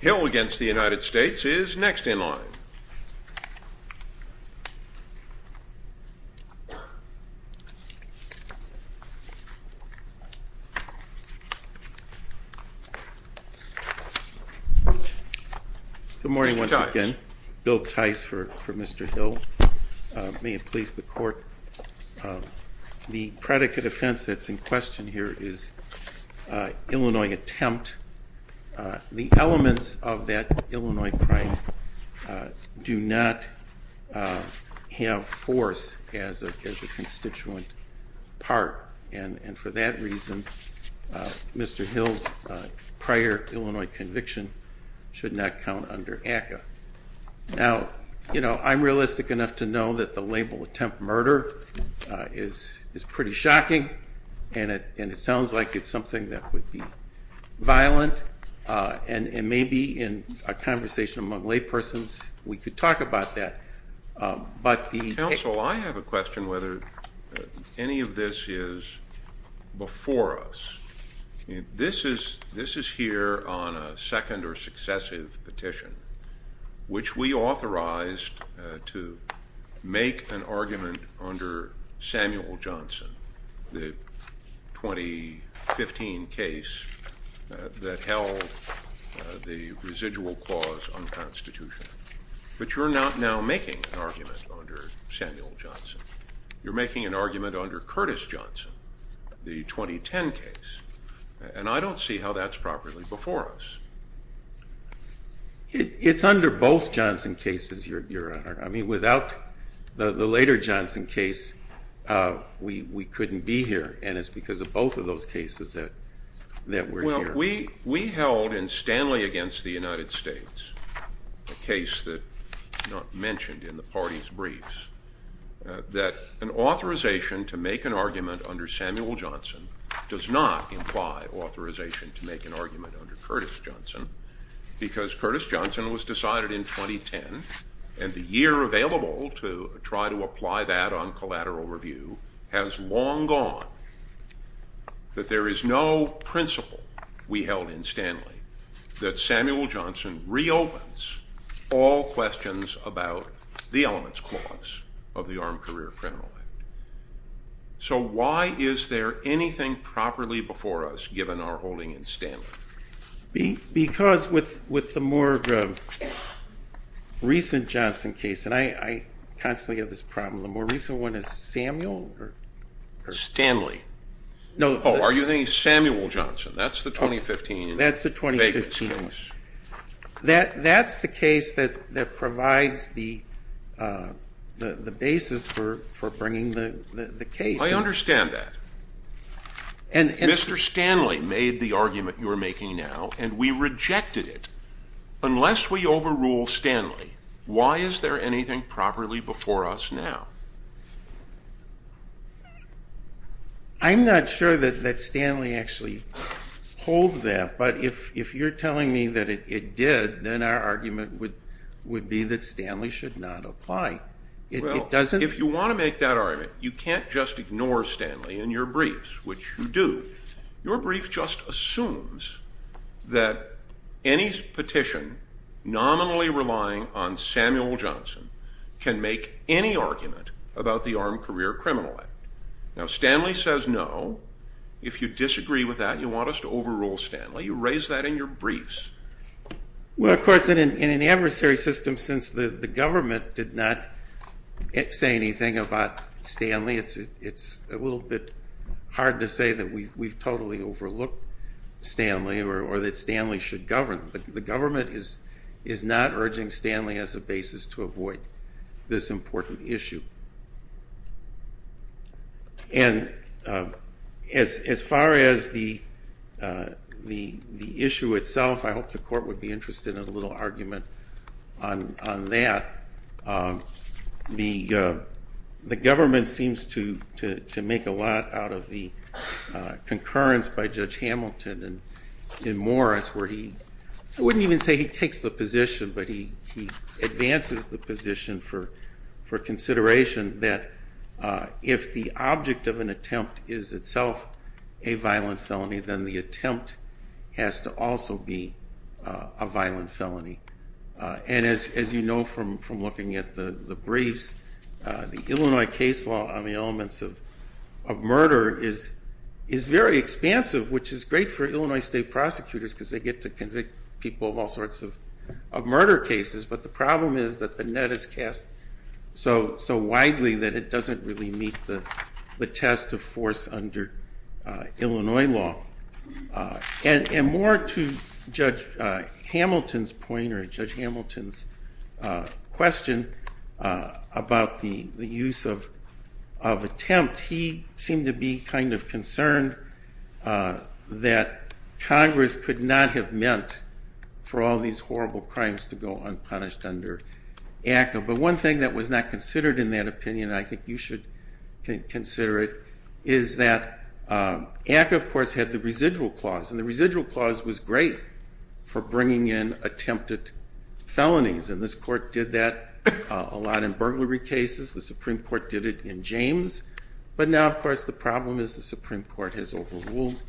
Hill v. United States is next in line. Mr. Tice. Good morning once again. Bill Tice for Mr. Hill. May it please the Court, the predicate offense that's in question here is Illinois attempt. The elements of that Illinois crime do not have force as a constituent part and for that reason Mr. Hill's prior Illinois conviction should not count under ACCA. Now, you know, I'm realistic enough to know that the label attempt murder is pretty shocking and it sounds like it's something that would be violent and maybe in a conversation among laypersons we could talk about that. Counsel, I have a question whether any of this is before us. This is here on a second or successive petition which we authorized to make an argument under Samuel Johnson, the 2015 case that held the residual clause on the Constitution. But you're not now making an argument under Samuel Johnson. You're making an argument under Curtis Johnson, the 2010 case, and I don't see how that's properly before us. It's under both Johnson cases, Your Honor. I mean, without the later Johnson case we couldn't be here and it's because of both of those cases that we're here. We held in Stanley against the United States, a case that's not mentioned in the party's briefs, that an authorization to make an argument under Samuel Johnson does not imply authorization to make an argument under Curtis Johnson because Curtis Johnson was decided in 2010 and the year available to try to apply that on collateral review has long gone. That there is no principle we held in Stanley that Samuel Johnson reopens all questions about the elements clause of the Armed Career Criminal Act. So why is there anything properly before us given our holding in Stanley? Because with the more recent Johnson case, and I constantly have this problem, the more recent one is Samuel? Stanley. No. Oh, are you saying Samuel Johnson? That's the 2015 case. That's the 2015 case. That's the case that provides the basis for bringing the case. I understand that. Mr. Stanley made the argument you're making now and we rejected it. Unless we overrule Stanley, why is there anything properly before us now? I'm not sure that Stanley actually holds that, but if you're telling me that it did, then our argument would be that Stanley should not apply. Well, if you want to make that argument, you can't just ignore Stanley in your briefs, which you do. Your brief just assumes that any petition nominally relying on Samuel Johnson can make any argument about the Armed Career Criminal Act. Now, Stanley says no. If you disagree with that and you want us to overrule Stanley, you raise that in your briefs. Well, of course, in an adversary system, since the government did not say anything about Stanley, it's a little bit hard to say that we've totally overlooked Stanley or that Stanley should govern. But the government is not urging Stanley as a basis to avoid this important issue. And as far as the issue itself, I hope the court would be interested in a little argument on that. The government seems to make a lot out of the concurrence by Judge Hamilton and Morris where he – I wouldn't even say he takes the position, but he advances the position for consideration that if the object of an attempt is itself a violent felony, then the attempt has to also be a violent felony. And as you know from looking at the briefs, the Illinois case law on the elements of murder is very expansive, which is great for Illinois state prosecutors because they get to convict people of all sorts of murder cases. But the problem is that the net is cast so widely that it doesn't really meet the test of force under Illinois law. And more to Judge Hamilton's point or Judge Hamilton's question about the use of attempt, he seemed to be kind of concerned that Congress could not have meant for all these horrible crimes to go unpunished under ACCA. But one thing that was not considered in that opinion, and I think you should consider it, is that ACCA of course had the residual clause. And the residual clause was great for bringing in attempted felonies. And this court did that a lot in burglary cases. The Supreme Court did it in James. But now of course the problem is the Supreme Court has overruled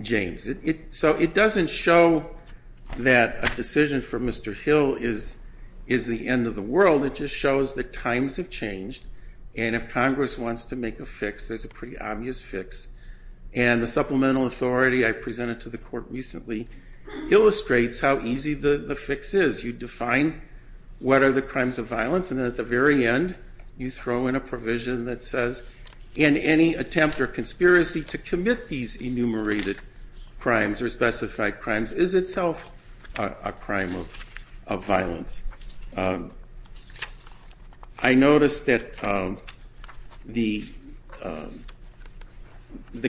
James. So it doesn't show that a decision for Mr. Hill is the end of the world. It just shows that times have changed. And if Congress wants to make a fix, there's a pretty obvious fix. And the supplemental authority I presented to the court recently illustrates how easy the fix is. You define what are the crimes of violence, and at the very end you throw in a provision that says, in any attempt or conspiracy to commit these enumerated crimes or specified crimes is itself a crime of violence. I noticed that the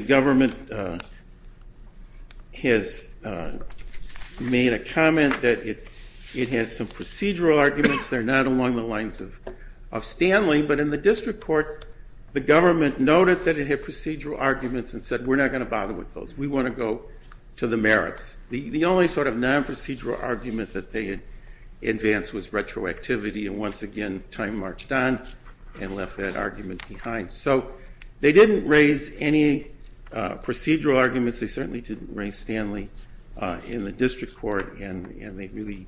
government has made a comment that it has some procedural arguments. They're not along the lines of Stanley. But in the district court, the government noted that it had procedural arguments and said, we're not going to bother with those. We want to go to the merits. The only sort of non-procedural argument that they had advanced was retroactivity. And once again, time marched on and left that argument behind. So they didn't raise any procedural arguments. They certainly didn't raise Stanley in the district court. And they really,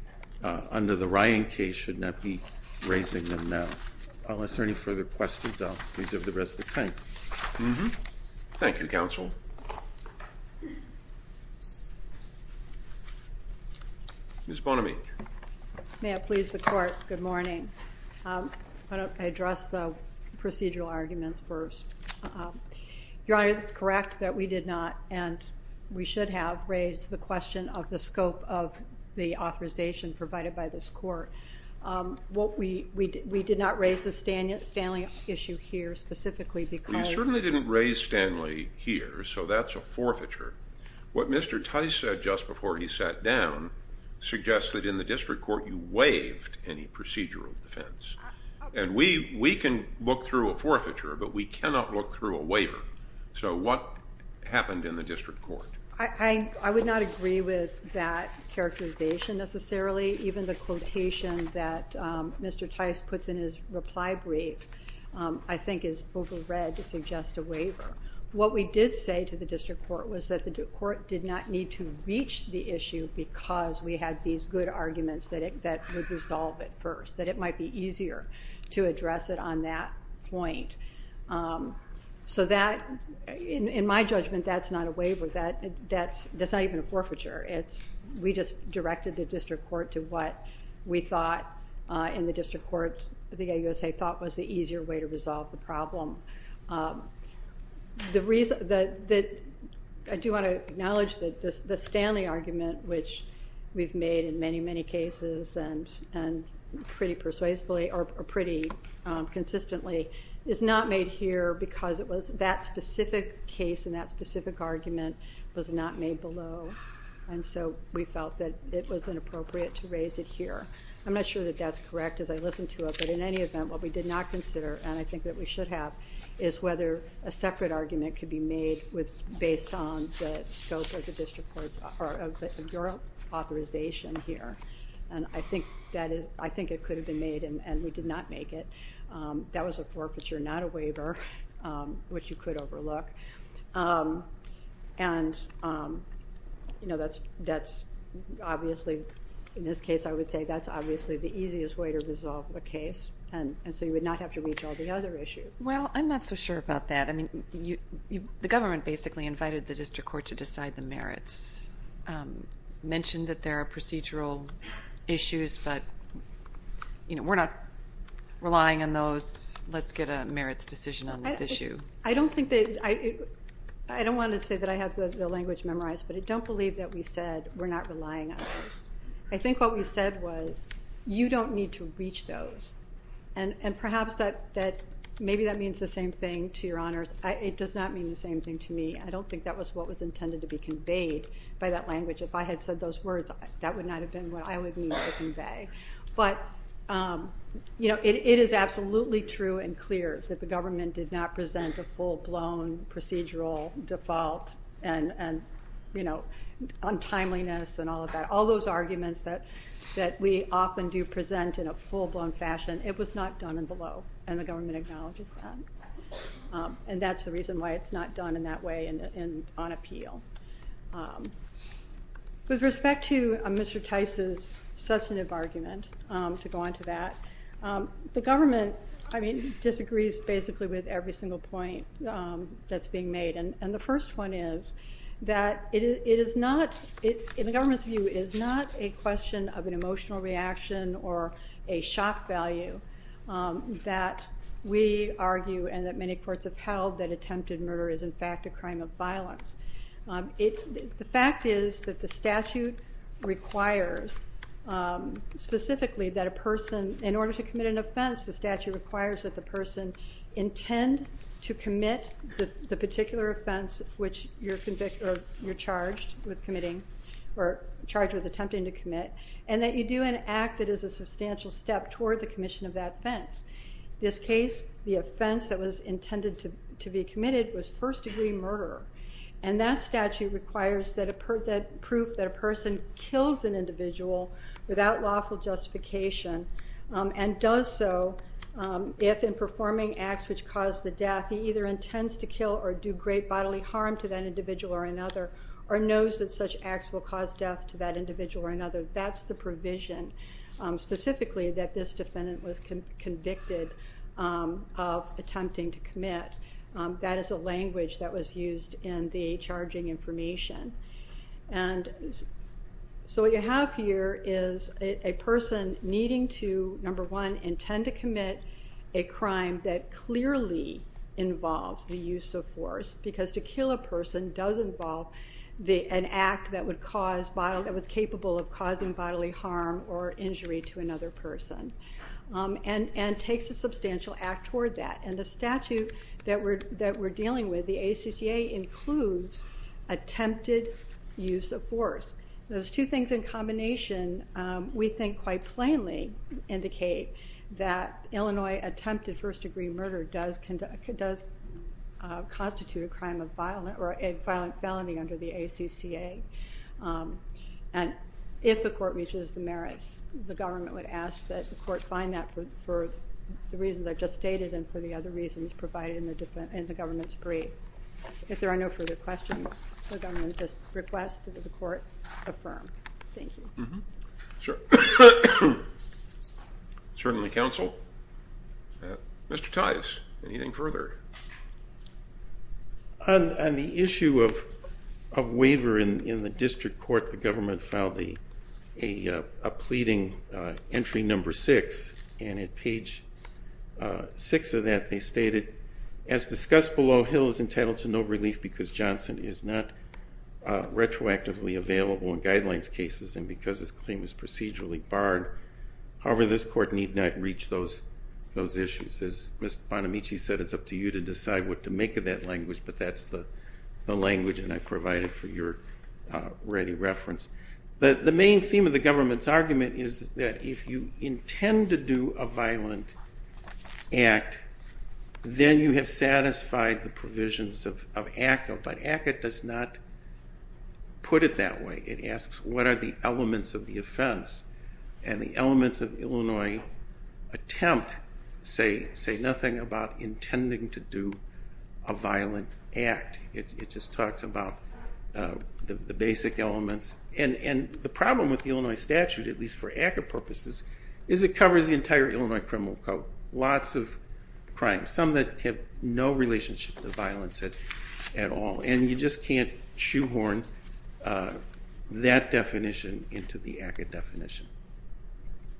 under the Ryan case, should not be raising them now. Unless there are any further questions, I'll reserve the rest of the time. Thank you, counsel. Ms. Bonomi. May I please the court? Good morning. I want to address the procedural arguments first. Your Honor, it's correct that we did not, and we should have, raised the question of the scope of the authorization provided by this court. We did not raise the Stanley issue here specifically because You certainly didn't raise Stanley here, so that's a forfeiture. What Mr. Tice said just before he sat down suggests that in the district court you waived any procedural defense. And we can look through a forfeiture, but we cannot look through a waiver. So what happened in the district court? I would not agree with that characterization necessarily. Even the quotation that Mr. Tice puts in his reply brief, I think, is overread to suggest a waiver. What we did say to the district court was that the court did not need to reach the issue because we had these good arguments that would resolve it first, that it might be easier to address it on that point. So that, in my judgment, that's not a waiver. That's not even a forfeiture. We just directed the district court to what we thought in the district court, the AUSA thought was the easier way to resolve the problem. I do want to acknowledge that the Stanley argument, which we've made in many, many cases, and pretty persuasively, or pretty consistently, is not made here because that specific case and that specific argument was not made below. And so we felt that it was inappropriate to raise it here. I'm not sure that that's correct as I listen to it. But in any event, what we did not consider, and I think that we should have, is whether a separate argument could be made based on the scope of your authorization here. And I think it could have been made, and we did not make it. That was a forfeiture, not a waiver, which you could overlook. And, you know, that's obviously, in this case, I would say that's obviously the easiest way to resolve a case. And so you would not have to reach all the other issues. Well, I'm not so sure about that. I mean, the government basically invited the district court to decide the merits, mentioned that there are procedural issues, but, you know, we're not relying on those. Let's get a merits decision on this issue. I don't want to say that I have the language memorized, but I don't believe that we said we're not relying on those. I think what we said was you don't need to reach those. And perhaps maybe that means the same thing to your honors. It does not mean the same thing to me. I don't think that was what was intended to be conveyed by that language. If I had said those words, that would not have been what I would need to convey. But, you know, it is absolutely true and clear that the government did not present a full-blown procedural default and, you know, untimeliness and all of that, all those arguments that we often do present in a full-blown fashion. It was not done and below, and the government acknowledges that. And that's the reason why it's not done in that way and on appeal. With respect to Mr. Tice's substantive argument, to go on to that, the government, I mean, disagrees basically with every single point that's being made. And the first one is that it is not, in the government's view, is not a question of an emotional reaction or a shock value that we argue and that many courts have held that attempted murder is, in fact, a crime of violence. The fact is that the statute requires specifically that a person, in order to commit an offense, the statute requires that the person intend to commit the particular offense which you're charged with committing or charged with attempting to commit and that you do an act that is a substantial step toward the commission of that offense. In this case, the offense that was intended to be committed was first-degree murder. And that statute requires that proof that a person kills an individual without lawful justification and does so if, in performing acts which cause the death, he either intends to kill or do great bodily harm to that individual or another or knows that such acts will cause death to that individual or another. That's the provision specifically that this defendant was convicted of attempting to commit. That is a language that was used in the charging information. And so what you have here is a person needing to, number one, intend to commit a crime that clearly involves the use of force because to kill a person does involve an act that was capable of causing bodily harm or injury to another person and takes a substantial act toward that. And the statute that we're dealing with, the ACCA, includes attempted use of force. Those two things in combination, we think quite plainly, indicate that Illinois attempted first-degree murder does constitute a crime of violence or a violent felony under the ACCA. And if the court reaches the merits, the government would ask that the court find that for the reasons I've just stated and for the other reasons provided in the government's brief. If there are no further questions, the government just requests that the court affirm. Thank you. Certainly, counsel. Mr. Tives, anything further? On the issue of waiver in the district court, the government filed a pleading, entry number six, and at page six of that they stated, as discussed below, Hill is entitled to no relief because Johnson is not retroactively available in guidelines cases and because his claim is procedurally barred. However, this court need not reach those issues. As Ms. Bonamici said, it's up to you to decide what to make of that language, but that's the language that I provided for your ready reference. The main theme of the government's argument is that if you intend to do a violent act, then you have satisfied the provisions of ACCA, but ACCA does not put it that way. It asks, what are the elements of the offense? And the elements of Illinois attempt say nothing about intending to do a violent act. It just talks about the basic elements. And the problem with the Illinois statute, at least for ACCA purposes, is it covers the entire Illinois criminal code, lots of crimes, some that have no relationship to violence at all, and you just can't shoehorn that definition into the ACCA definition.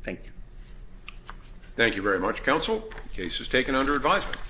Thank you. Thank you very much, counsel. Case is taken under advisement.